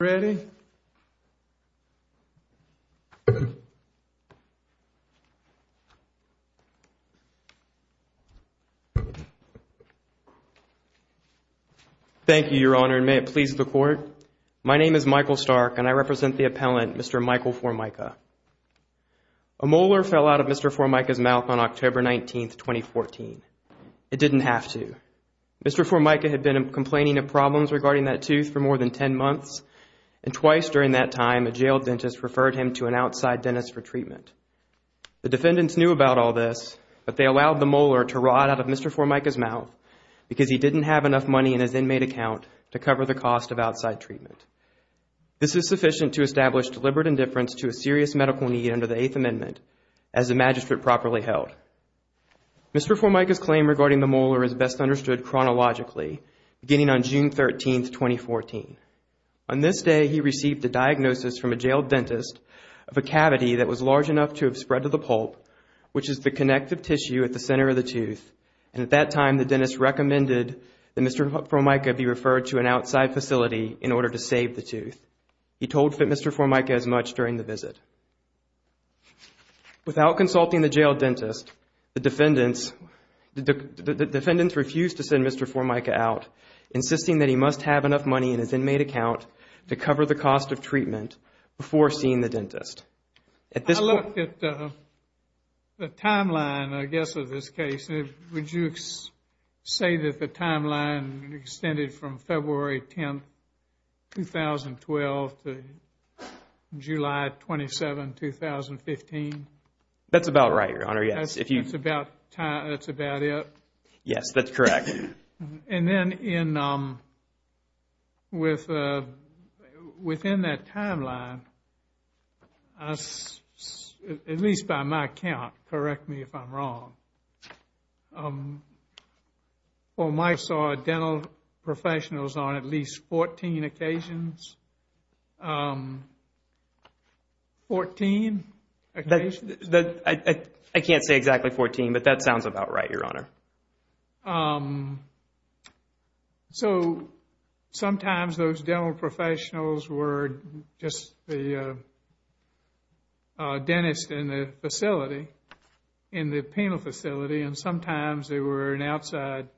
Ready? Thank you, Your Honor, and may it please the Court. My name is Michael Stark, and I represent the appellant, Mr. Michael Formica. A molar fell out of Mr. Formica's mouth on October 19, 2014. It didn't have to. Mr. Formica had been complaining of problems regarding that tooth for more than 10 months, and twice during that time, a jail dentist referred him to an outside dentist for treatment. The defendants knew about all this, but they allowed the molar to rot out of Mr. Formica's mouth because he didn't have enough money in his inmate account to cover the cost of outside treatment. This is sufficient to establish deliberate indifference to a serious medical need under the Eighth Amendment as the magistrate properly held. Mr. Formica's claim regarding the molar is best understood chronologically, beginning on June 13, 2014. On this day, he received a diagnosis from a jail dentist of a cavity that was large enough to have spread to the pulp, which is the connective tissue at the center of the tooth, and at that time, the dentist recommended that Mr. Formica be referred to an outside facility in order to save the tooth. He told Fit Mr. Formica as much during the visit. Without consulting the jail dentist, the defendants refused to send Mr. Formica out, insisting that he must have enough money in his inmate account to cover the cost of treatment before seeing the dentist. At this point... I looked at the timeline, I guess, of this case, and would you say that the timeline has been extended from February 10, 2012 to July 27, 2015? That's about right, Your Honor. Yes, if you... That's about it? Yes, that's correct. And then, within that timeline, at least by my count, correct me if I'm wrong, when Mike saw dental professionals on at least 14 occasions, 14 occasions? I can't say exactly 14, but that sounds about right, Your Honor. So sometimes those dental professionals were just the dentist in the facility, in the penal facility, and sometimes they were an outside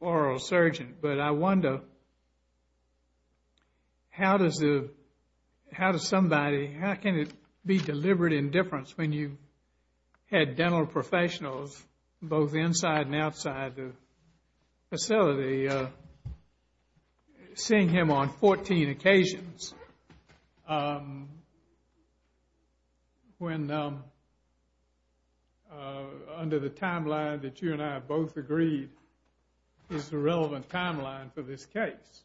oral surgeon. But I wonder, how does the... How does somebody... How can it be deliberate indifference when you had dental professionals both inside and the outside? What is the timeline that you and I both agreed is the relevant timeline for this case?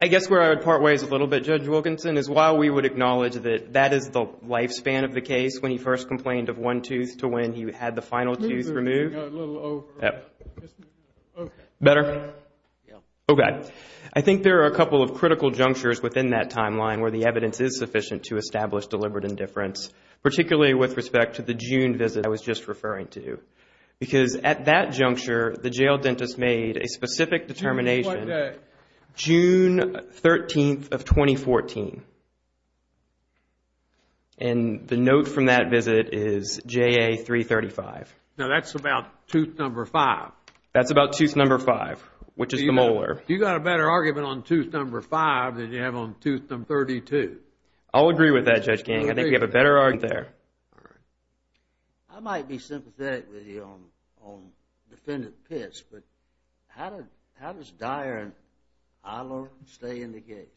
I guess where I would part ways a little bit, Judge Wilkinson, is while we would acknowledge that that is the lifespan of the case, when he first complained of one tooth to when he had the final tooth removed... Please move it a little over... Better? Okay. I think there are a couple of critical junctures within that timeline where the evidence is that I was just referring to. Because at that juncture, the jail dentist made a specific determination, June 13th of 2014, and the note from that visit is JA-335. Now that's about tooth number five. That's about tooth number five, which is the molar. You got a better argument on tooth number five than you have on tooth number 32. I'll agree with that, Judge King. I think we have a better argument there. All right. I might be sympathetic with you on Defendant Pitts, but how does Dyer and Iler stay in the case?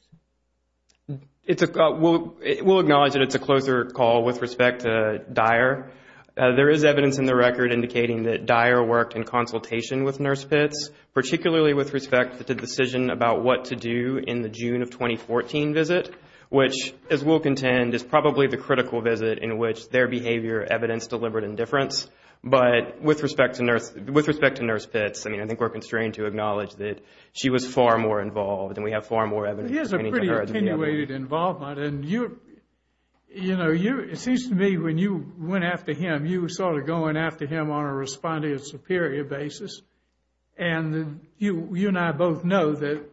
We'll acknowledge that it's a closer call with respect to Dyer. There is evidence in the record indicating that Dyer worked in consultation with Nurse Pitts, particularly with respect to the decision about what to do in the June of 2014 visit, which, as we'll contend, is probably the critical visit in which their behavior evidenced deliberate indifference. But with respect to Nurse Pitts, I think we're constrained to acknowledge that she was far more involved, and we have far more evidence. He has a pretty attenuated involvement. It seems to me when you went after him, you were sort of going after him on a respondent superior basis. And you and I both know that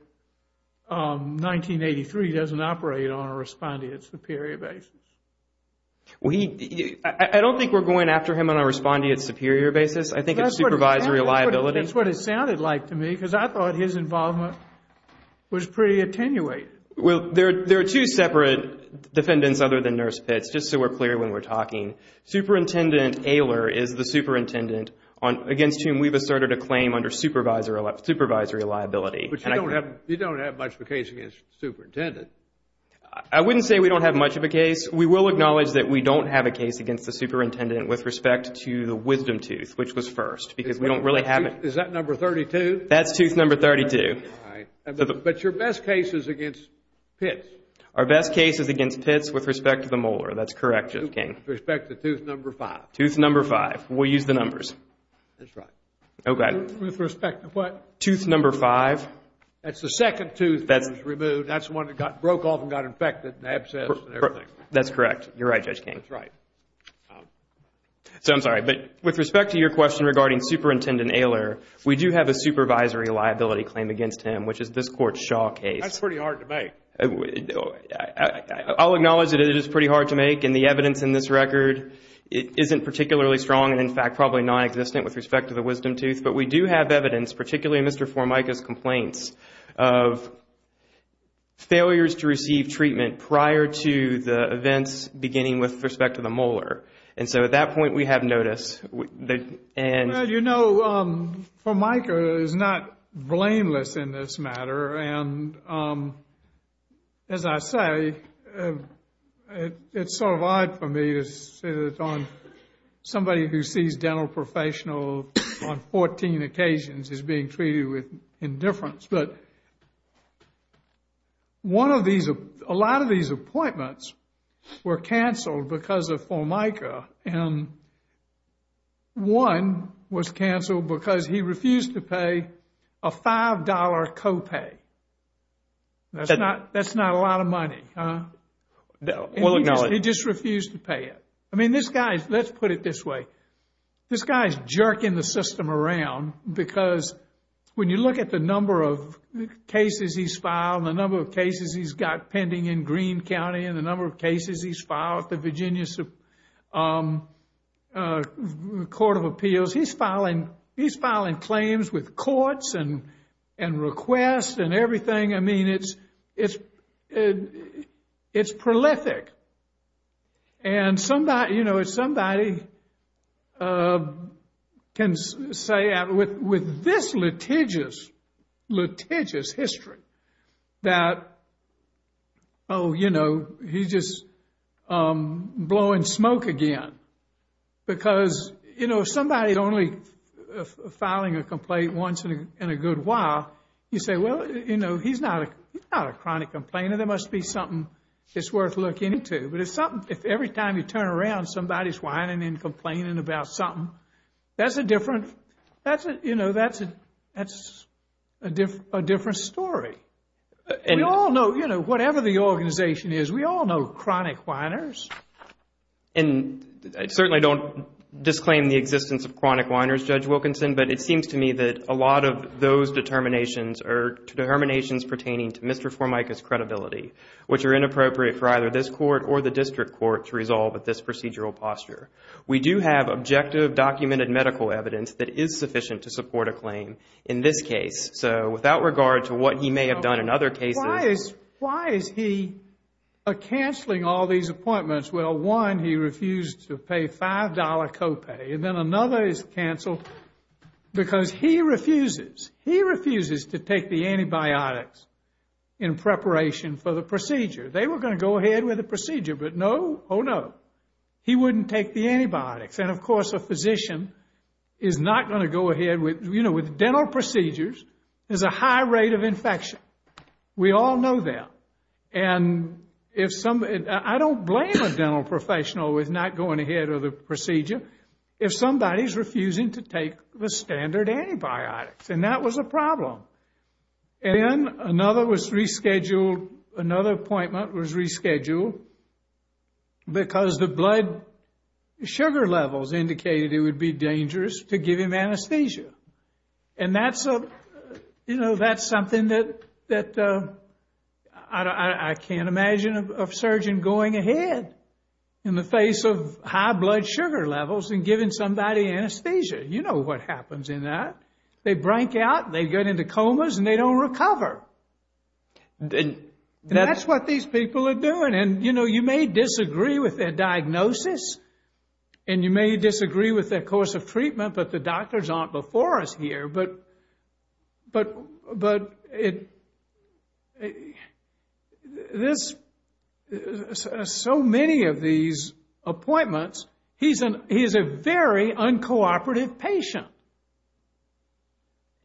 1983 doesn't operate on a respondent superior basis. I don't think we're going after him on a respondent superior basis. I think it's supervisory liability. That's what it sounded like to me, because I thought his involvement was pretty attenuated. Well, there are two separate defendants other than Nurse Pitts, just so we're clear when we're talking. Superintendent Ehler is the superintendent against whom we've asserted a claim under supervisory liability. But you don't have much of a case against the superintendent. I wouldn't say we don't have much of a case. We will acknowledge that we don't have a case against the superintendent with respect to the Wisdom Tooth, which was first, because we don't really have it. Is that number 32? That's tooth number 32. But your best case is against Pitts. Our best case is against Pitts with respect to the molar. That's correct, Judge King. With respect to tooth number 5. Tooth number 5. We'll use the numbers. That's right. Oh, God. With respect to what? Tooth number 5. That's the second tooth that was removed. That's the one that broke off and got infected and abscessed and everything. That's correct. You're right, Judge King. That's right. So, I'm sorry. But with respect to your question regarding Superintendent Ehler, we do have a supervisory liability claim against him, which is this Court's Shaw case. That's pretty hard to make. I'll acknowledge that it is pretty hard to make and the evidence in this record isn't particularly strong and, in fact, probably non-existent with respect to the Wisdom Tooth. But we do have evidence, particularly in Mr. Formica's complaints, of failures to receive treatment prior to the events beginning with respect to the molar. And so, at that point, we have notice. Well, you know, Formica is not blameless in this matter and, as I say, it's sort of odd for me to sit on somebody who sees dental professionals on 14 occasions as being treated with indifference. But a lot of these appointments were canceled because of Formica and one was canceled because he refused to pay a $5 co-pay. That's not a lot of money, huh? Well, no. He just refused to pay it. I mean, this guy, let's put it this way, this guy's jerking the system around because when you look at the number of cases he's filed, the number of cases he's got pending in Greene County and the number of cases he's filed at the Virginia Court of Appeals, he's filing claims with courts and requests and everything, I mean, it's prolific. And somebody, you know, somebody can say with this litigious, litigious history that, oh, you know, he's just blowing smoke again because, you know, somebody only filing a complaint once in a good while, you say, well, you know, he's not a chronic complainer, there must be something that's worth looking into. But if every time you turn around, somebody's whining and complaining about something, that's a different, you know, that's a different story. And we all know, you know, whatever the organization is, we all know chronic whiners. And I certainly don't disclaim the existence of chronic whiners, Judge Wilkinson, but it seems to me that a lot of those determinations are determinations pertaining to Mr. Formica's credibility, which are inappropriate for either this court or the district court to resolve at this procedural posture. We do have objective documented medical evidence that is sufficient to support a claim in this case. So without regard to what he may have done in other cases. Why is he canceling all these appointments? Well, one, he refused to pay $5 copay, and then another is canceled because he refuses, he refuses to take the antibiotics in preparation for the procedure. They were going to go ahead with the procedure, but no, oh no, he wouldn't take the antibiotics. And of course, a physician is not going to go ahead with, you know, with dental procedures, there's a high rate of infection. We all know that. And if somebody, I don't blame a dental professional with not going ahead with the procedure if somebody is refusing to take the standard antibiotics, and that was a problem. And another was rescheduled, another appointment was rescheduled because the blood sugar levels indicated it would be dangerous to give him anesthesia. And that's, you know, that's something that I can't imagine a surgeon going ahead in the anesthesia. You know what happens in that. They break out, they get into comas, and they don't recover. That's what these people are doing. And you know, you may disagree with their diagnosis, and you may disagree with their course of treatment, but the doctors aren't before us here. But this, so many of these appointments, he's a very uncooperative patient.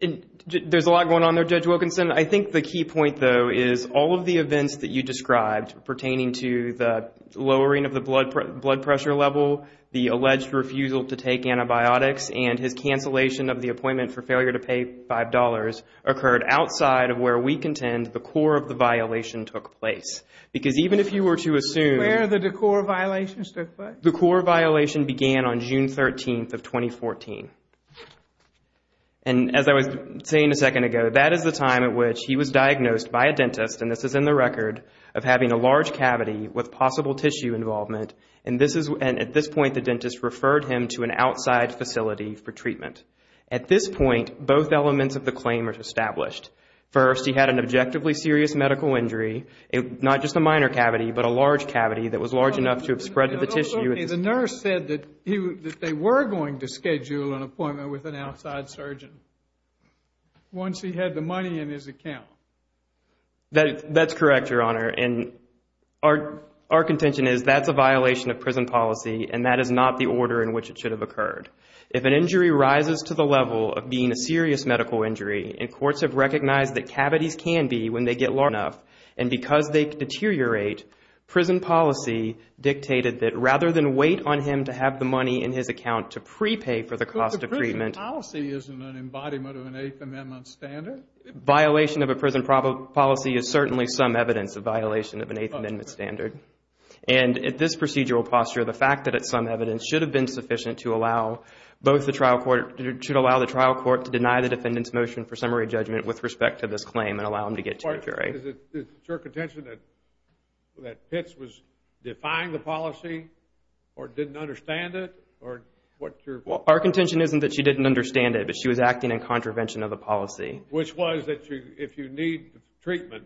And there's a lot going on there, Judge Wilkinson. I think the key point, though, is all of the events that you described pertaining to the lowering of the blood pressure level, the alleged refusal to take antibiotics, and his cancellation of the appointment for failure to pay $5 occurred outside of where we contend the core of the violation took place. Because even if you were to assume... Where the core violations took place? The core violation began on June 13th of 2014. And as I was saying a second ago, that is the time at which he was diagnosed by a dentist, and this is in the record, of having a large cavity with possible tissue involvement. And at this point, the dentist referred him to an outside facility for treatment. At this point, both elements of the claim are established. First, he had an objectively serious medical injury, not just a minor cavity, but a large cavity that was large enough to have spread to the tissue. The nurse said that they were going to schedule an appointment with an outside surgeon once he had the money in his account. That's correct, Your Honor. And our contention is that's a violation of prison policy, and that is not the order in which it should have occurred. If an injury rises to the level of being a serious medical injury, and courts have recognized that cavities can be when they get large enough, and because they deteriorate, prison policy dictated that rather than wait on him to have the money in his account to prepay for the cost of treatment... But the prison policy isn't an embodiment of an Eighth Amendment standard. Violation of a prison policy is certainly some evidence of violation of an Eighth Amendment standard. And at this procedural posture, the fact that it's some evidence should have been sufficient to allow both the trial court, should allow the trial court to deny the defendant's motion for summary judgment with respect to this claim and allow him to get to a jury. Is it your contention that Pitts was defying the policy or didn't understand it? Our contention isn't that she didn't understand it, but she was acting in contravention of the policy. Which was that if you need treatment,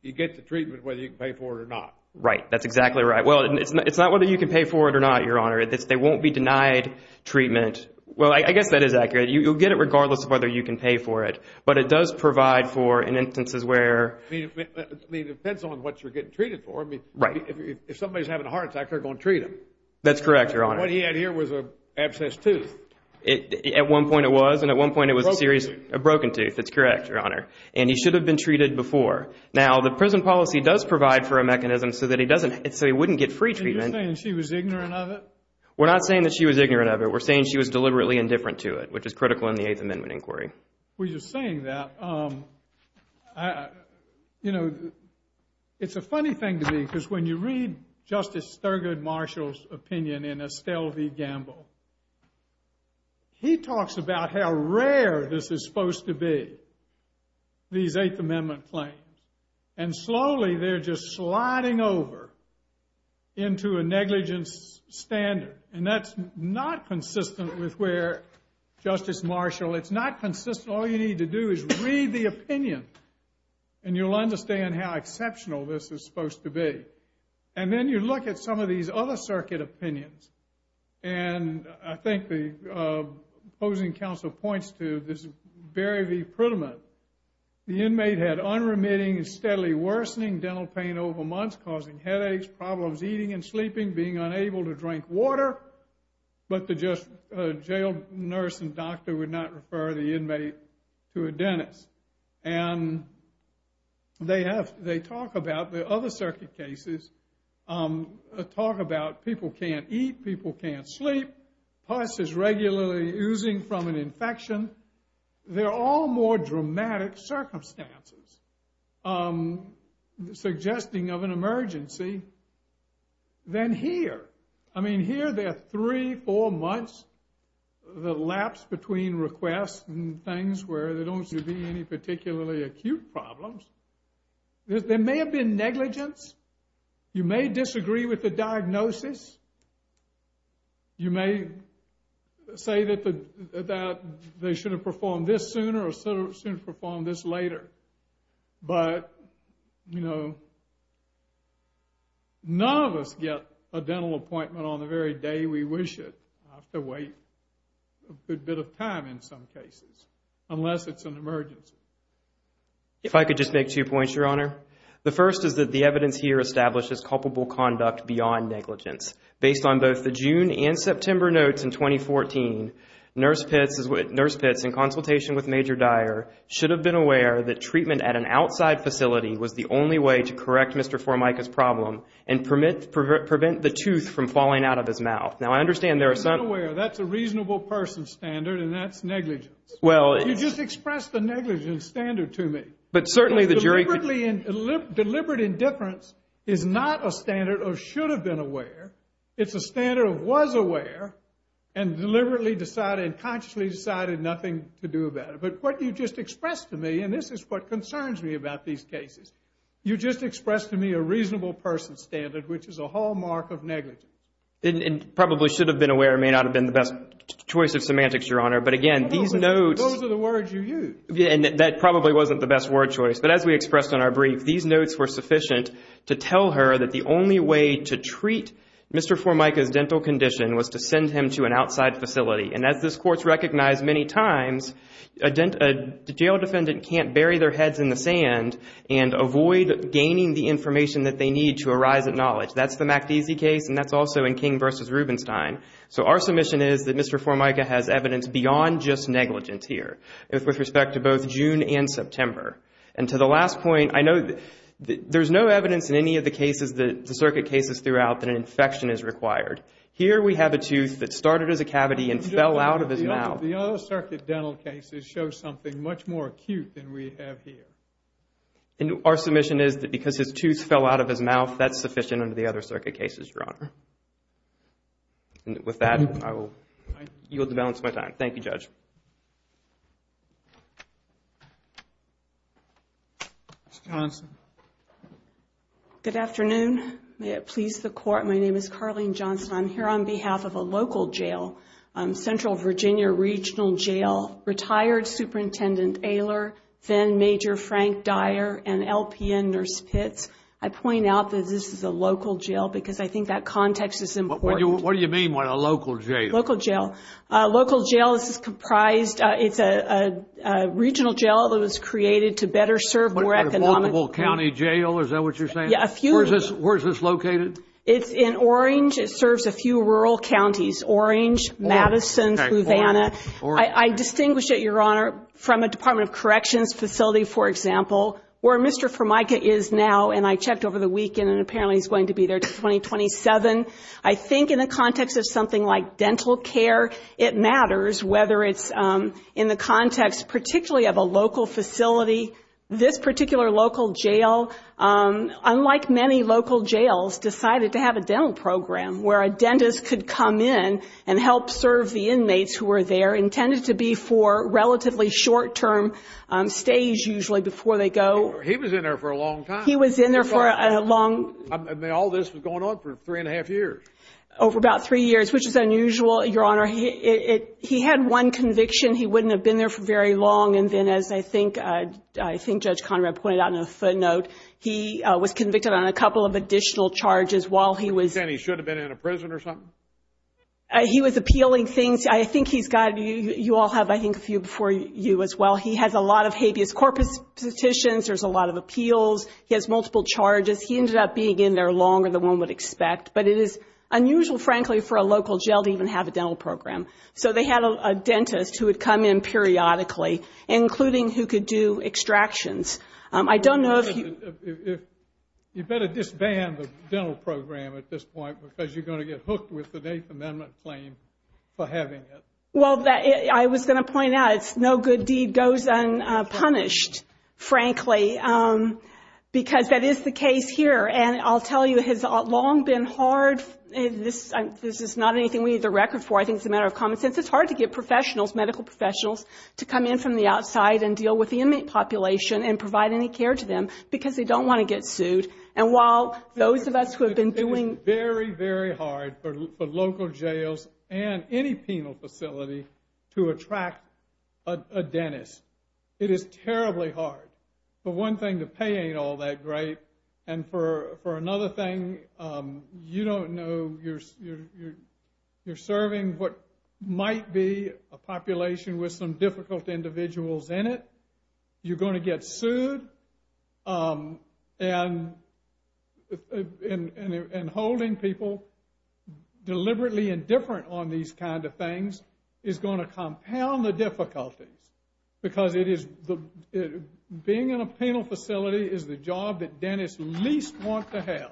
you get the treatment whether you can pay for it or not. Right. That's exactly right. Well, it's not whether you can pay for it or not, Your Honor. They won't be denied treatment. Well, I guess that is accurate. You'll get it regardless of whether you can pay for it. But it does provide for, in instances where... I mean, it depends on what you're getting treated for. I mean, if somebody's having a heart attack, they're going to treat them. That's correct, Your Honor. What he had here was an abscessed tooth. At one point it was. Broken tooth. A broken tooth. That's correct, Your Honor. And he should have been treated before. Now, the prison policy does provide for a mechanism so that he wouldn't get free treatment. So you're saying she was ignorant of it? We're not saying that she was ignorant of it. We're saying she was deliberately indifferent to it, which is critical in the Eighth Amendment inquiry. Well, you're saying that. You know, it's a funny thing to me because when you read Justice Thurgood Marshall's opinion in Estelle v. Gamble, he talks about how rare this is supposed to be, these Eighth Amendment claims. And slowly they're just sliding over into a negligence standard. And that's not consistent with where Justice Marshall... It's not consistent. All you need to do is read the opinion and you'll understand how exceptional this is supposed to be. And then you look at some of these other circuit opinions, and I think the opposing counsel points to this Berry v. Pruitt Amendment. The inmate had unremitting and steadily worsening dental pain over months, causing headaches, problems eating and sleeping, being unable to drink water, but the jail nurse and doctor And they talk about the other circuit cases, talk about people can't eat, people can't sleep, pus is regularly oozing from an infection. They're all more dramatic circumstances, suggesting of an emergency than here. I mean, here there are three, four months, the lapse between requests and things where there don't seem to be any particularly acute problems. There may have been negligence. You may disagree with the diagnosis. You may say that they should have performed this sooner or should have performed this later. But, you know, none of us get a dental appointment on the very day we wish it. I have to wait a good bit of time in some cases, unless it's an emergency. If I could just make two points, Your Honor. The first is that the evidence here establishes culpable conduct beyond negligence. Based on both the June and September notes in 2014, nurse pits in consultation with Major Dyer should have been aware that treatment at an outside facility was the only way to correct Mr. Formica's problem and prevent the tooth from falling out of his mouth. Now, I understand there are some... Not aware. That's a reasonable person standard and that's negligence. Well... You just expressed the negligence standard to me. But certainly the jury... Deliberate indifference is not a standard of should have been aware. It's a standard of was aware and deliberately decided, consciously decided nothing to do about it. But what you just expressed to me, and this is what concerns me about these cases, you just expressed to me a reasonable person standard, which is a hallmark of negligence. It probably should have been aware, it may not have been the best choice of semantics, Your Honor. But again, these notes... Those are the words you use. Yeah, and that probably wasn't the best word choice. But as we expressed in our brief, these notes were sufficient to tell her that the only way to treat Mr. Formica's dental condition was to send him to an outside facility. And as this Court's recognized many times, a jail defendant can't bury their heads in the sand and avoid gaining the information that they need to arise at knowledge. That's the MacDese case, and that's also in King v. Rubenstein. So our submission is that Mr. Formica has evidence beyond just negligence here, with respect to both June and September. And to the last point, I know that there's no evidence in any of the cases, the circuit cases throughout, that an infection is required. Here we have a tooth that started as a cavity and fell out of his mouth. The other circuit dental cases show something much more acute than we have here. And our submission is that because his tooth fell out of his mouth, that's sufficient under the other circuit cases, Your Honor. With that, I will yield the balance of my time. Thank you, Judge. Ms. Johnson. Good afternoon. May it please the Court, my name is Carlene Johnson. I'm here on behalf of a local jail, Central Virginia Regional Jail, retired Superintendent Ehler, then Major Frank Dyer, and LPN Nurse Pitts. I point out that this is a local jail because I think that context is important. What do you mean by a local jail? Local jail. A local jail is comprised, it's a regional jail that was created to better serve more economic... What about a multiple county jail, is that what you're saying? Yeah, a few... Where is this located? It's in Orange. It serves a few rural counties, Orange, Madison, Havana. I distinguish it, Your Honor, from a Department of Corrections facility, for example, where Mr. Formica is now, and I checked over the weekend and apparently he's going to be there until 2027. I think in the context of something like dental care, it matters whether it's in the context particularly of a local facility. This particular local jail, unlike many local jails, decided to have a dental program where a dentist could come in and help serve the inmates who were there, intended to be for He was in there for a long time. He was in there for a long... I mean, all this was going on for three and a half years. Over about three years, which is unusual, Your Honor. He had one conviction, he wouldn't have been there for very long, and then as I think Judge Conrad pointed out in a footnote, he was convicted on a couple of additional charges while he was... You're saying he should have been in a prison or something? He was appealing things. I think he's got... you all have, I think, a few before you as well. He has a lot of habeas corpus petitions. There's a lot of appeals. He has multiple charges. He ended up being in there longer than one would expect, but it is unusual, frankly, for a local jail to even have a dental program. So they had a dentist who would come in periodically, including who could do extractions. I don't know if he... You better disband the dental program at this point because you're going to get hooked with the Eighth Amendment claim for having it. Well, I was going to point out, it's no good deed goes unpunished, frankly, because that is the case here, and I'll tell you, it has long been hard... this is not anything we need the record for. I think it's a matter of common sense. It's hard to get professionals, medical professionals, to come in from the outside and deal with the inmate population and provide any care to them because they don't want to get sued. And while those of us who have been doing... and any penal facility to attract a dentist. It is terribly hard, but one thing, the pay ain't all that great, and for another thing, you don't know... you're serving what might be a population with some difficult individuals in it. You're going to get sued, and holding people deliberately indifferent on these kind of things is going to compound the difficulties because it is... being in a penal facility is the job that dentists least want to have.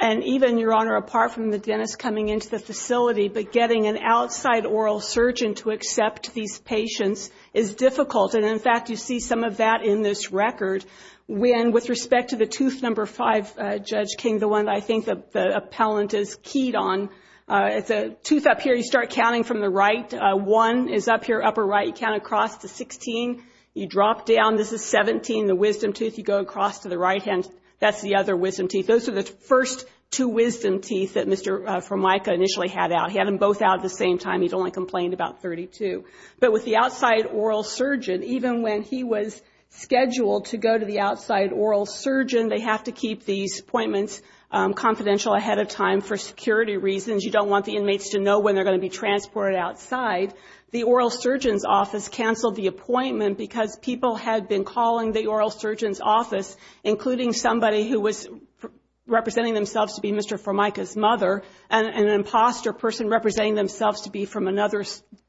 And even, Your Honor, apart from the dentist coming into the facility, but getting an outside oral surgeon to accept these patients is difficult. And in fact, you see some of that in this record when, with respect to the tooth number five, Judge King, the one that I think the appellant is keyed on, it's a tooth up here. You start counting from the right. One is up here, upper right. You count across to 16. You drop down. This is 17, the wisdom tooth. You go across to the right hand. That's the other wisdom teeth. Those are the first two wisdom teeth that Mr. Formica initially had out. He had them both out at the same time. He'd only complained about 32. But with the outside oral surgeon, even when he was scheduled to go to the outside oral surgeon, they have to keep these appointments confidential ahead of time for security reasons. You don't want the inmates to know when they're going to be transported outside. The oral surgeon's office canceled the appointment because people had been calling the oral surgeon's office, including somebody who was representing themselves to be Mr. Formica's mother, and an imposter person representing themselves to be from another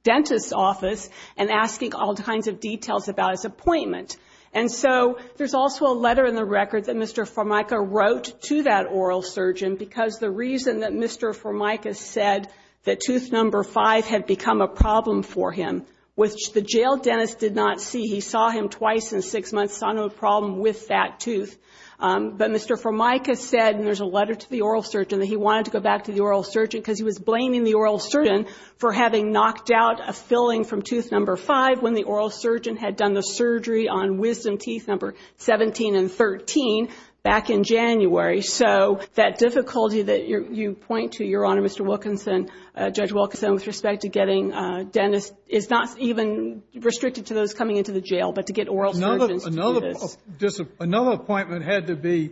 dentist's office, and asking all kinds of details about his appointment. And so there's also a letter in the record that Mr. Formica wrote to that oral surgeon because the reason that Mr. Formica said that tooth number five had become a problem for him, which the jail dentist did not see, he saw him twice in six months, saw no problem with that tooth. But Mr. Formica said, and there's a letter to the oral surgeon, that he wanted to go to the oral surgeon because he was blaming the oral surgeon for having knocked out a filling from tooth number five when the oral surgeon had done the surgery on wisdom teeth number 17 and 13 back in January. So that difficulty that you point to, Your Honor, Mr. Wilkinson, Judge Wilkinson, with respect to getting dentists is not even restricted to those coming into the jail, but to get oral surgeons to do this. Another appointment had to be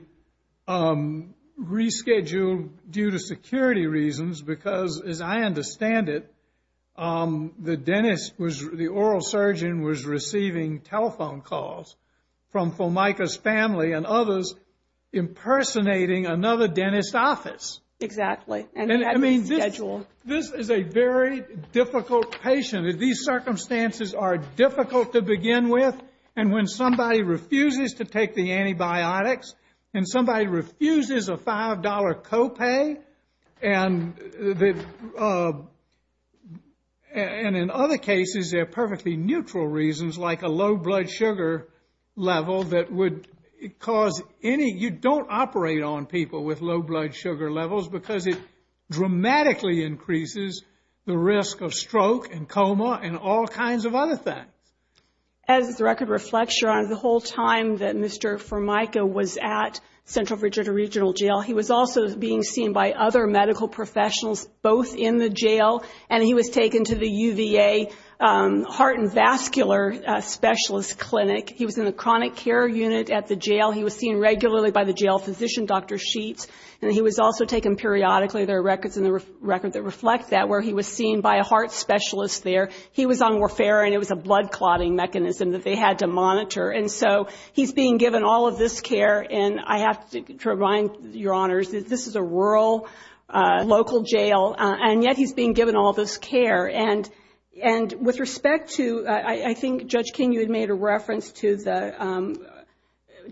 rescheduled due to security reasons because, as I understand it, the oral surgeon was receiving telephone calls from Formica's family and others impersonating another dentist's office. Exactly. And it had to be rescheduled. This is a very difficult patient. These circumstances are difficult to begin with. And when somebody refuses to take the antibiotics and somebody refuses a $5 co-pay, and in other cases they're perfectly neutral reasons like a low blood sugar level that would cause any – you don't operate on people with low blood sugar levels because it dramatically increases the risk of stroke and coma and all kinds of other things. As the record reflects, Your Honor, the whole time that Mr. Formica was at Central Virginia Regional Jail, he was also being seen by other medical professionals both in the jail and he was taken to the UVA heart and vascular specialist clinic. He was in the chronic care unit at the jail. He was seen regularly by the jail physician, Dr. Sheets, and he was also taken periodically. There are records in the record that reflect that where he was seen by a heart specialist there. He was on warfare and it was a blood clotting mechanism that they had to monitor. And so he's being given all of this care and I have to remind Your Honors that this is a rural, local jail, and yet he's being given all this care. And with respect to – I think, Judge King, you had made a reference to the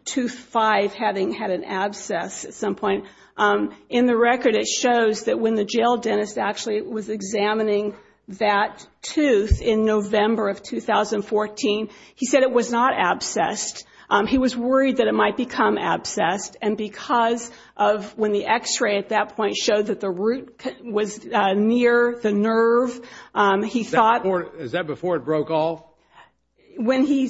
2-5 having had an abscess at some point. In the record, it shows that when the jail dentist actually was examining that tooth in November of 2014, he said it was not abscessed. He was worried that it might become abscessed. And because of when the x-ray at that point showed that the root was near the nerve, he thought – Is that before it broke off? When he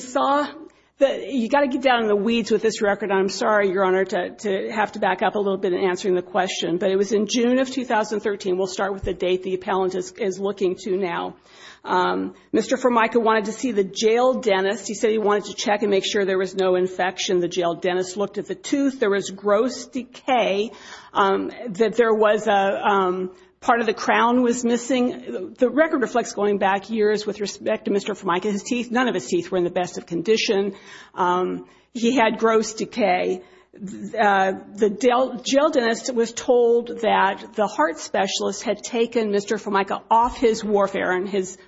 saw – you've got to get down in the weeds with this record, and I'm sorry, Your Honor, to have to back up a little bit in answering the question. But it was in June of 2013. We'll start with the date the appellant is looking to now. Mr. Formica wanted to see the jail dentist. He said he wanted to check and make sure there was no infection. The jail dentist looked at the tooth. There was gross decay, that there was a – part of the crown was missing. The record reflects going back years with respect to Mr. Formica. His teeth – none of his teeth were in the best of condition. He had gross decay. The jail dentist was told that the heart specialist had taken Mr. Formica off his warfare and his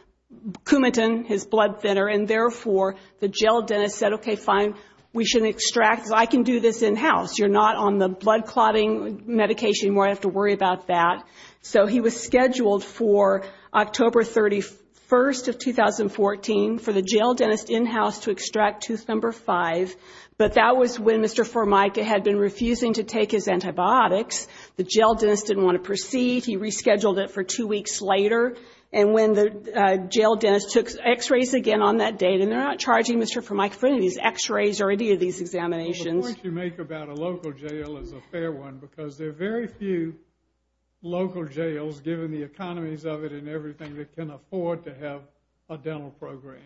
Coumadin, his blood thinner, and therefore, the jail dentist said, okay, fine, we should extract – because I can do this in-house. You're not on the blood clotting medication anymore, I don't have to worry about that. So he was scheduled for October 31st of 2014 for the jail dentist in-house to extract tooth number five. But that was when Mr. Formica had been refusing to take his antibiotics. The jail dentist didn't want to proceed. He rescheduled it for two weeks later. And when the jail dentist took X-rays again on that date – and they're not charging Mr. Formica for any of these X-rays or any of these examinations. The point you make about a local jail is a fair one because there are very few local jails, given the economies of it and everything, that can afford to have a dental program.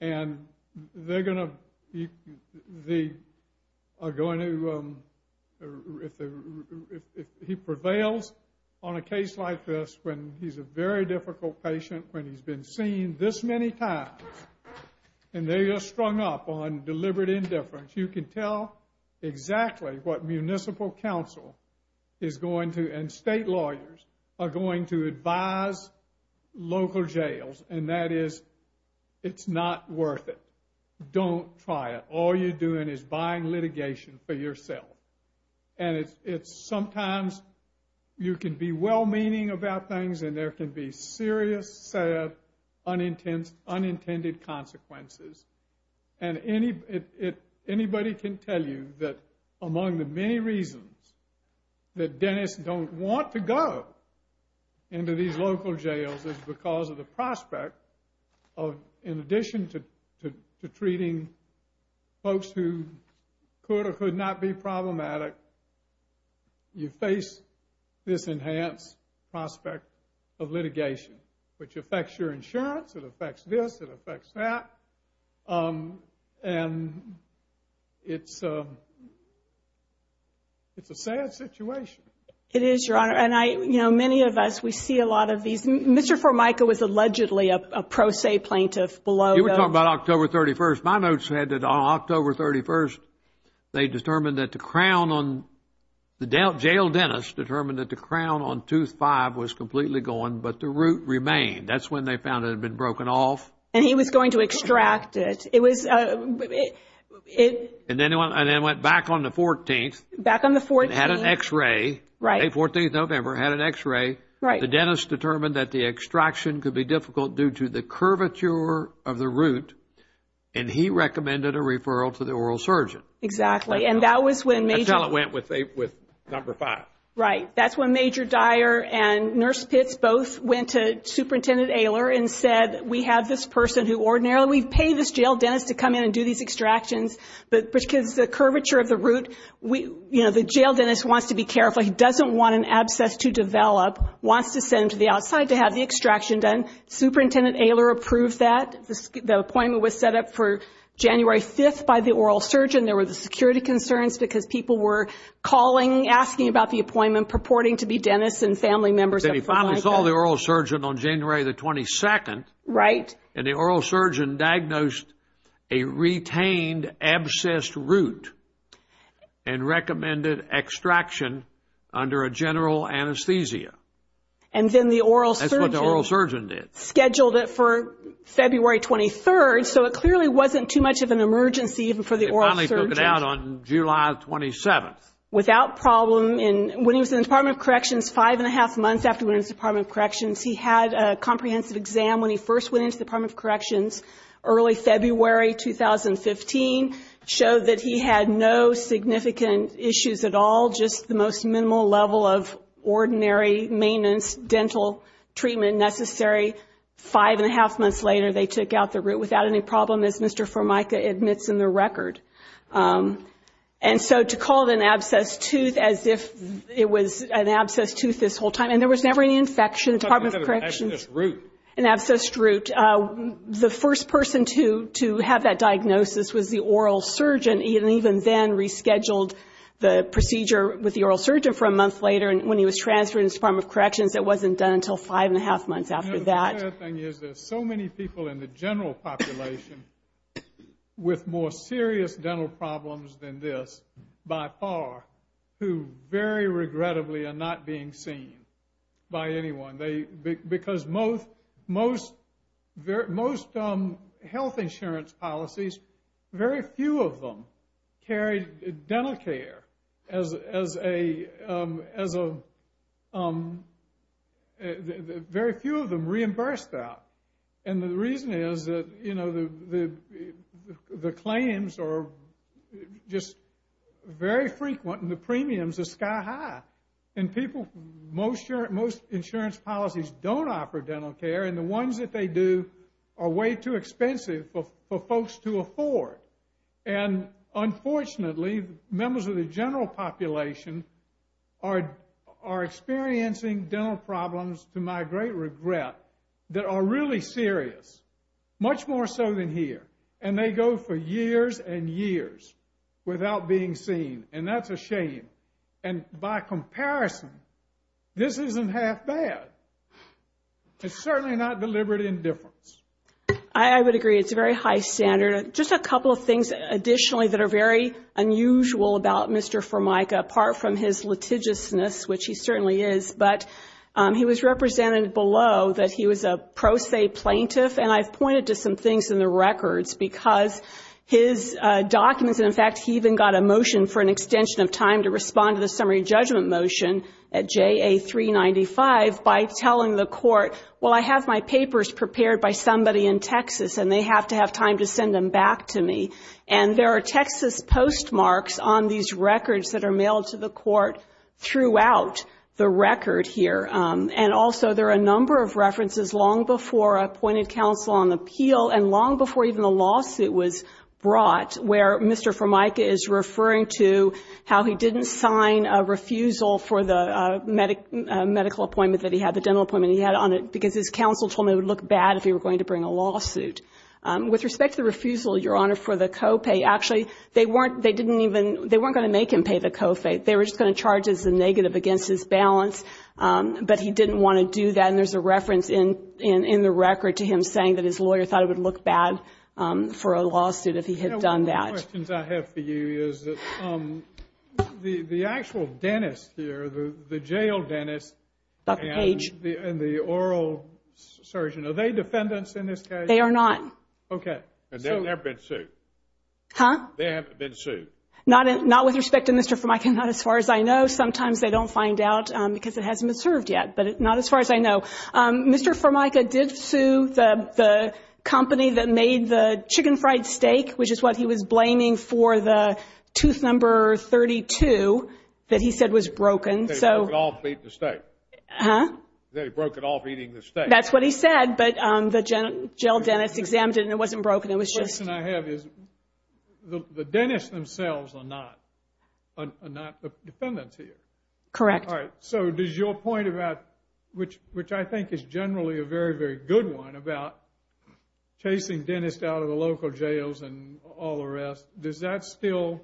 And they're going to – they are going to – if the – if he prevails on a case like this when he's a very difficult patient, when he's been seen this many times, and they are strung up on deliberate indifference, you can tell exactly what municipal counsel is going to – and state lawyers – are going to advise local jails. And that is, it's not worth it. Don't try it. All you're doing is buying litigation for yourself. And it's – sometimes you can be well-meaning about things and there can be serious, sad, unintended consequences. And anybody can tell you that among the many reasons that dentists don't want to go into these local jails is because of the prospect of, in addition to treating folks who could or could not be problematic, you face this enhanced prospect of litigation, which affects your insurance, it affects this, it affects that, and it's a sad situation. It is, Your Honor. And I – you know, many of us, we see a lot of these – Mr. Formica was allegedly a pro se plaintiff below – You were talking about October 31st. My notes said that on October 31st, they determined that the crown on – the jail dentist determined that the crown on tooth five was completely gone, but the root remained. That's when they found it had been broken off. And he was going to extract it. It was – And then it went back on the 14th. Back on the 14th. It had an X-ray. Right. May 14th, November, had an X-ray. Right. The dentist determined that the extraction could be difficult due to the curvature of the root, and he recommended a referral to the oral surgeon. Exactly. And that was when Major – Until it went with number five. Right. That's when Major Dyer and Nurse Pitts both went to Superintendent Ehler and said, we have this person who ordinarily – We pay this jail dentist to come in and do these extractions because the curvature of the root – We – You know, the jail dentist wants to be careful. He doesn't want an abscess to develop, wants to send him to the outside to have the extraction done. Superintendent Ehler approved that. The appointment was set up for January 5th by the oral surgeon. There were the security concerns because people were calling, asking about the appointment, purporting to be dentists and family members of – Then he finally saw the oral surgeon on January the 22nd. Right. And the oral surgeon diagnosed a retained abscessed root and recommended extraction under a general anesthesia. And then the oral surgeon – That's what the oral surgeon did. Scheduled it for February 23rd, so it clearly wasn't too much of an emergency even for the oral surgeon. He finally took it out on July 27th. Without problem in – When he was in the Department of Corrections, five and a half months after he went into the Department of Corrections, he had a comprehensive exam when he first went into the Department of Corrections early February 2015, showed that he had no significant issues at all, just the most minimal level of ordinary maintenance, dental treatment necessary. Five and a half months later, they took out the root without any problem, as Mr. Formica admits in the record. And so to call it an abscessed tooth as if it was an abscessed tooth this whole time – And there was never any infection in the Department of Corrections. It's not that it was an abscessed root. An abscessed root. The first person to have that diagnosis was the oral surgeon, and he even then rescheduled the procedure with the oral surgeon for a month later. When he was transferred into the Department of Corrections, it wasn't done until five and a half months after that. The sad thing is there's so many people in the general population with more serious dental problems than this, by far, who very regrettably are not being seen by anyone. Because most health insurance policies, very few of them carry dental care as a – very few of them reimburse that. And the reason is that, you know, the claims are just very frequent and the premiums are sky high. And people – most insurance policies don't offer dental care, and the ones that they do are way too expensive for folks to afford. And unfortunately, members of the general population are experiencing dental problems to my great regret that are really serious, much more so than here. And they go for years and years without being seen, and that's a shame. And by comparison, this isn't half bad. It's certainly not deliberate indifference. I would agree. It's a very high standard. Just a couple of things additionally that are very unusual about Mr. Formica, apart from his litigiousness, which he certainly is, but he was represented below that he was a pro se plaintiff. And I've pointed to some things in the records because his documents – in fact, he even got a motion for an extension of time to respond to the summary judgment motion at JA 395 by telling the court, well, I have my papers prepared by somebody in Texas, and they have to have time to send them back to me. And there are Texas postmarks on these records that are mailed to the court throughout the record here. And also, there are a number of references long before appointed counsel on the appeal and long before even the lawsuit was brought where Mr. Formica is referring to how he didn't sign a refusal for the medical appointment that he had, the dental appointment he had on it, because his counsel told him it would look bad if he were going to bring a lawsuit. With respect to the refusal, Your Honor, for the co-pay, actually, they weren't going to make him pay the co-pay. They were just going to charge as a negative against his balance, but he didn't want to do that. And there's a reference in the record to him saying that his lawyer thought it would look bad for a lawsuit if he had done that. One of the questions I have for you is that the actual dentist here, the jail dentist and the oral surgeon, are they defendants in this case? They are not. Okay. And they've never been sued? Huh? They haven't been sued? Not with respect to Mr. Formica, not as far as I know. Sometimes they don't find out because it hasn't been served yet, but not as far as I know. Mr. Formica did sue the company that made the chicken fried steak, which is what he was blaming for the tooth number 32 that he said was broken. They broke it off eating the steak? That's what he said. But the jail dentist examined it, and it wasn't broken, it was just... The question I have is the dentists themselves are not defendants here? Correct. All right. So does your point about, which I think is generally a very, very good one, about chasing dentists out of the local jails and all the rest, does that still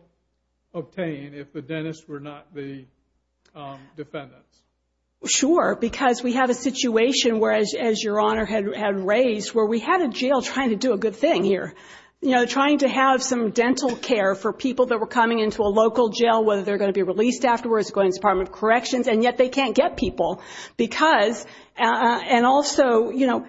obtain if the dentists were not the defendants? Sure, because we have a situation where, as Your Honor had raised, where we had a jail trying to do a good thing here, you know, trying to have some dental care for people that were coming into a local jail, whether they're going to be released afterwards, going to the Department of Corrections, and yet they can't get people because... And also, you know,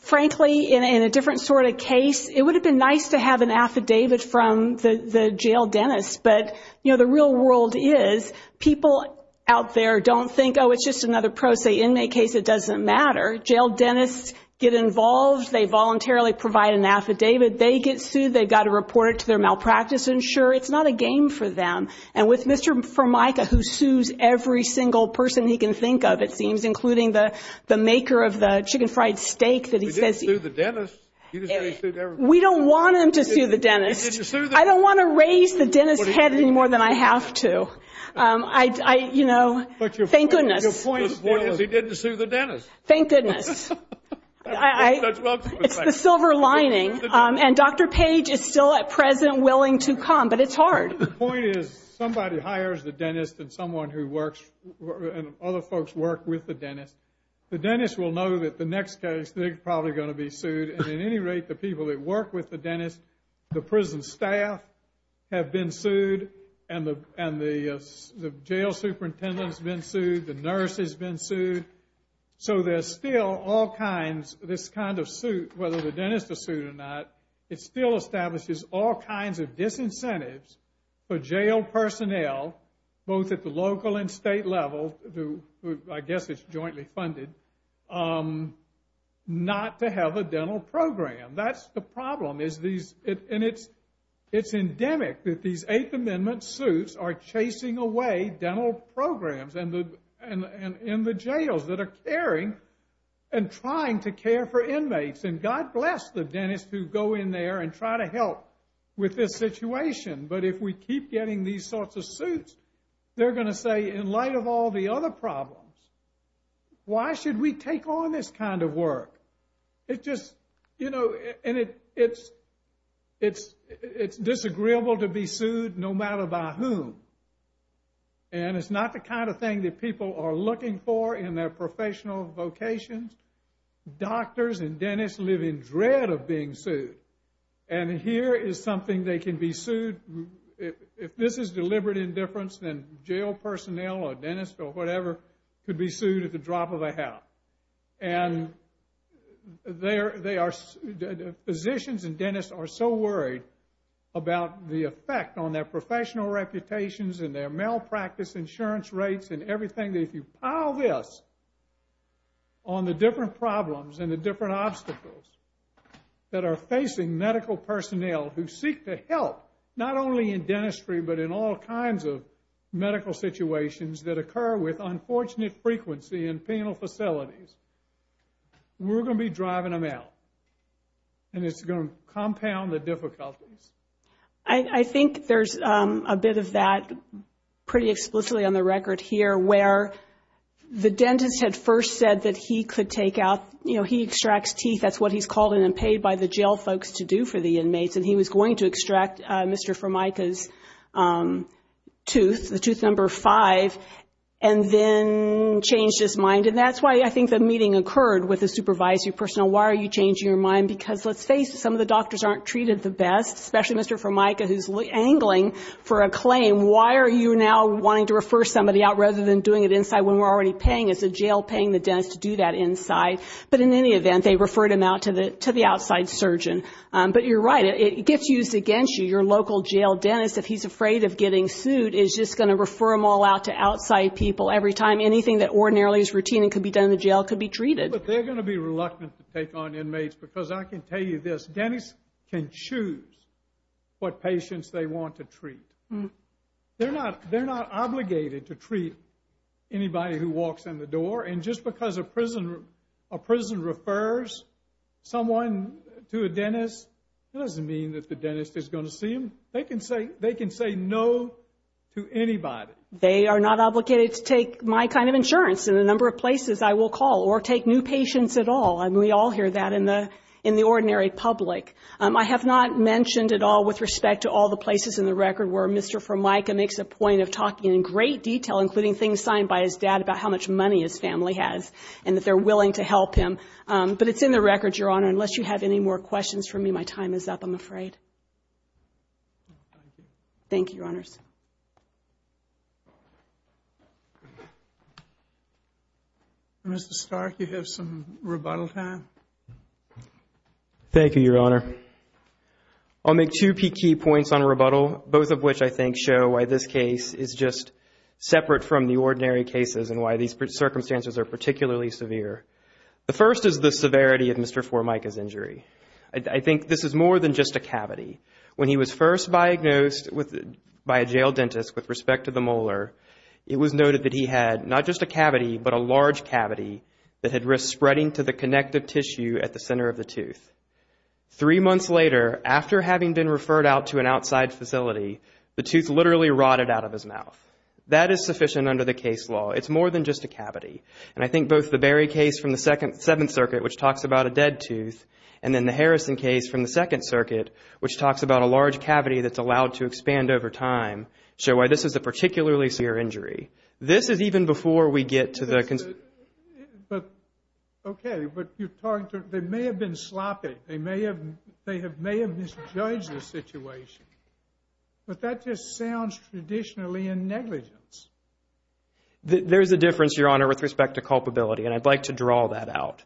frankly, in a different sort of case, it would have been nice to have an affidavit from the jail dentist, but, you know, the real world is, people out there don't think, oh, it's just another pro se inmate case, it doesn't matter. Jail dentists get involved, they voluntarily provide an affidavit, they get sued, they've got to report it to their malpractice insurer. It's not a game for them. And with Mr. Formica, who sues every single person he can think of, it seems, including the maker of the chicken fried steak that he says... He didn't sue the dentist? We don't want him to sue the dentist. I don't want to raise the dentist's head any more than I have to. I, you know, thank goodness. Your point is, he didn't sue the dentist. Thank goodness. It's the silver lining, and Dr. Page is still at present willing to come, but it's hard. The point is, somebody hires the dentist and someone who works, and other folks work with the dentist, the dentist will know that the next case, they're probably going to be sued, and at any rate, the people that work with the dentist, the prison staff have been sued, and the jail superintendent's been sued, the nurse has been sued. So there's still all kinds, this kind of suit, whether the dentist is sued or not, it still establishes all kinds of disincentives for jail personnel, both at the local and state level, I guess it's jointly funded, not to have a dental program. That's the problem, and it's endemic that these Eighth Amendment suits are chasing away dental programs in the jails that are caring and trying to care for inmates, and God bless the dentists who go in there and try to help with this situation, but if we keep getting these sorts of suits, they're going to say, in light of all the other problems, why should we take on this kind of work? It's just, you know, and it's disagreeable to be sued no matter by whom, and it's not the kind of thing that people are looking for in their professional vocations. Doctors and dentists live in dread of being sued, and here is something they can be sued, if this is deliberate indifference, then jail personnel or dentists or whatever could be sued at the drop of a hat, and they are, physicians and dentists are so worried about the effect on their professional reputations and their malpractice insurance rates and everything that if you pile this on the different problems and the different obstacles that are facing medical personnel who seek to help, not only in dentistry, but in all kinds of medical situations that occur with unfortunate frequency in penal facilities, we're going to be driving them out, and it's going to compound the difficulties. I think there's a bit of that pretty explicitly on the record here, where the dentist had first said that he could take out, you know, he extracts teeth, that's what he's called and paid by the jail folks to do for the inmates, and he was going to extract Mr. Formica's tooth, the tooth number five, and then change his mind, and that's why I think the meeting occurred with the supervisory personnel, why are you changing your mind, because let's face it, some of the doctors aren't treated the best, especially Mr. Formica who's angling for a claim, why are you now wanting to refer somebody out rather than doing it inside when we're already paying, is the jail paying the dentist to do that inside, but in any event, they referred him out to the outside surgeon, but you're right, it gets used against you, your local jail dentist, if he's afraid of getting sued, is just going to refer them all out to outside people every time anything that ordinarily is routine and could be done in the jail could be treated. But they're going to be reluctant to take on inmates, because I can tell you this, dentists can choose what patients they want to treat, they're not obligated to treat anybody who refers someone to a dentist, that doesn't mean that the dentist is going to see them, they can say no to anybody. They are not obligated to take my kind of insurance in a number of places I will call, or take new patients at all, and we all hear that in the ordinary public. I have not mentioned at all with respect to all the places in the record where Mr. Formica makes a point of talking in great detail, including things signed by his dad about how much money his family has, and that they're willing to help him, but it's in the record, Your Honor. Unless you have any more questions for me, my time is up, I'm afraid. Thank you, Your Honors. Mr. Stark, you have some rebuttal time. Thank you, Your Honor. I'll make two key points on rebuttal, both of which I think show why this case is just circumstances are particularly severe. The first is the severity of Mr. Formica's injury. I think this is more than just a cavity. When he was first diagnosed by a jail dentist with respect to the molar, it was noted that he had not just a cavity, but a large cavity that had risked spreading to the connective tissue at the center of the tooth. Three months later, after having been referred out to an outside facility, the tooth literally rotted out of his mouth. That is sufficient under the case law. It's more than just a cavity, and I think both the Berry case from the Seventh Circuit, which talks about a dead tooth, and then the Harrison case from the Second Circuit, which talks about a large cavity that's allowed to expand over time, show why this is a particularly severe injury. This is even before we get to the... But, okay, but you're talking to, they may have been sloppy. They may have misjudged the situation, but that just sounds traditionally a negligence. There's a difference, Your Honor, with respect to culpability, and I'd like to draw that out.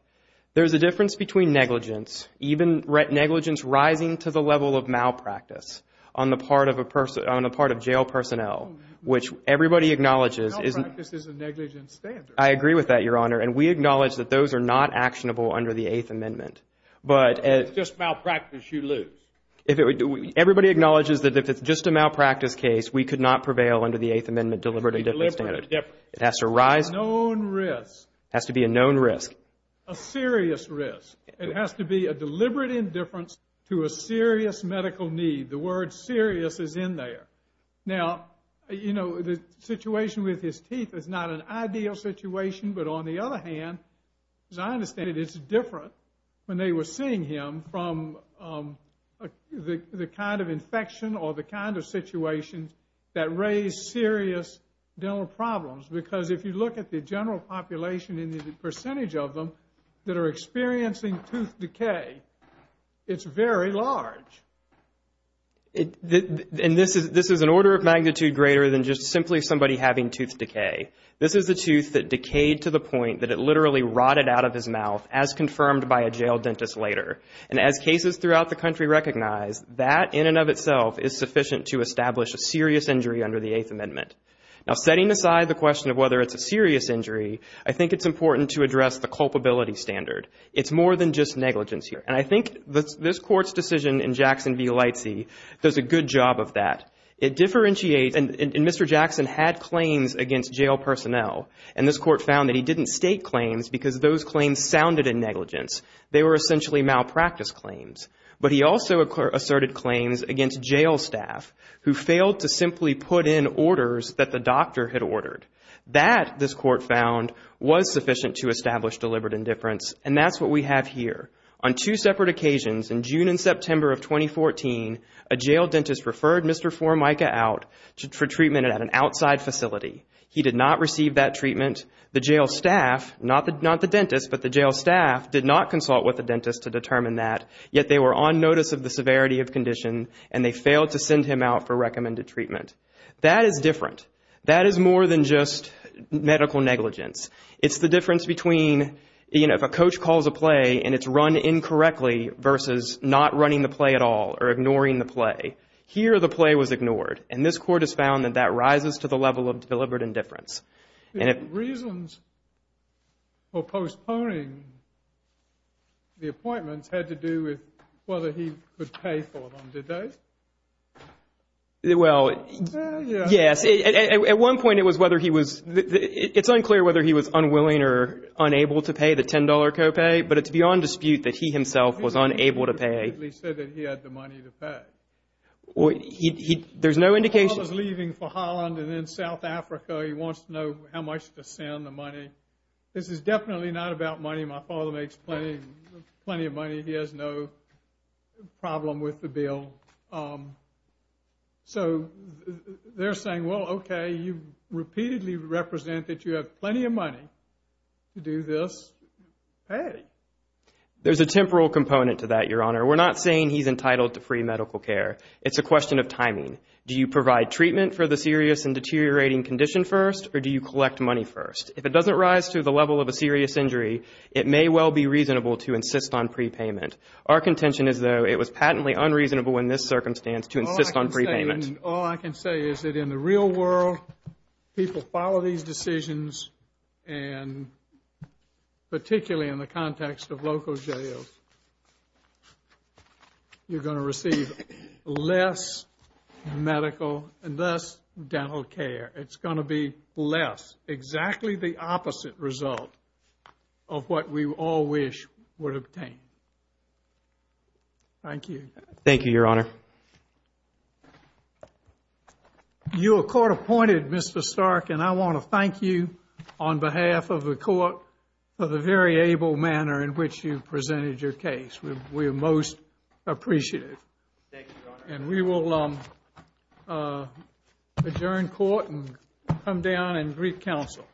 There's a difference between negligence, even negligence rising to the level of malpractice on the part of jail personnel, which everybody acknowledges... Malpractice is a negligence standard. I agree with that, Your Honor, and we acknowledge that those are not actionable under the Eighth Amendment. If it's just malpractice, you lose. Everybody acknowledges that if it's just a malpractice case, we could not prevail under the Eighth Amendment deliberate indifference standard. It has to rise... A known risk. It has to be a known risk. A serious risk. It has to be a deliberate indifference to a serious medical need. The word serious is in there. Now, you know, the situation with his teeth is not an ideal situation, but on the other hand, as I understand it, it's different when they were seeing him from the kind of infection or the kind of situation that raised serious dental problems. Because if you look at the general population and the percentage of them that are experiencing tooth decay, it's very large. And this is an order of magnitude greater than just simply somebody having tooth decay. This is a tooth that decayed to the point that it literally rotted out of his mouth as confirmed by a jail dentist later. And as cases throughout the country recognize, that in and of itself is sufficient to establish a serious injury under the Eighth Amendment. Now, setting aside the question of whether it's a serious injury, I think it's important to address the culpability standard. It's more than just negligence here. And I think this Court's decision in Jackson v. Leitze does a good job of that. It differentiates... And Mr. Jackson had claims against jail personnel, and this Court found that he didn't state claims because those claims sounded in negligence. They were essentially malpractice claims. But he also asserted claims against jail staff who failed to simply put in orders that the doctor had ordered. That, this Court found, was sufficient to establish deliberate indifference. And that's what we have here. On two separate occasions, in June and September of 2014, a jail dentist referred Mr. Formica out for treatment at an outside facility. He did not receive that treatment. The jail staff, not the dentist, but the jail staff did not consult with the dentist to determine that, yet they were on notice of the severity of condition and they failed to send him out for recommended treatment. That is different. That is more than just medical negligence. It's the difference between, you know, if a coach calls a play and it's run incorrectly versus not running the play at all or ignoring the play. Here the play was ignored, and this Court has found that that rises to the level of deliberate indifference. The reasons for postponing the appointments had to do with whether he could pay for them, did they? Well, yes, at one point it was whether he was, it's unclear whether he was unwilling or unable to pay the $10 co-pay, but it's beyond dispute that he himself was unable to pay. He said that he had the money to pay. There's no indication. My father's leaving for Holland and then South Africa. He wants to know how much to send, the money. This is definitely not about money. My father makes plenty, plenty of money. He has no problem with the bill. So they're saying, well, okay, you repeatedly represent that you have plenty of money to do this, pay. There's a temporal component to that, Your Honor. We're not saying he's entitled to free medical care. It's a question of timing. Do you provide treatment for the serious and deteriorating condition first or do you collect money first? If it doesn't rise to the level of a serious injury, it may well be reasonable to insist on prepayment. Our contention is, though, it was patently unreasonable in this circumstance to insist on prepayment. All I can say is that in the real world, people follow these decisions and particularly in the context of local jails, you're going to receive less medical and less dental care. It's going to be less, exactly the opposite result of what we all wish would obtain. Thank you. Thank you, Your Honor. Your court appointed Mr. Stark and I want to thank you on behalf of the court for the very able manner in which you presented your case. We are most appreciative. Thank you, Your Honor. And we will adjourn court and come down and greet counsel.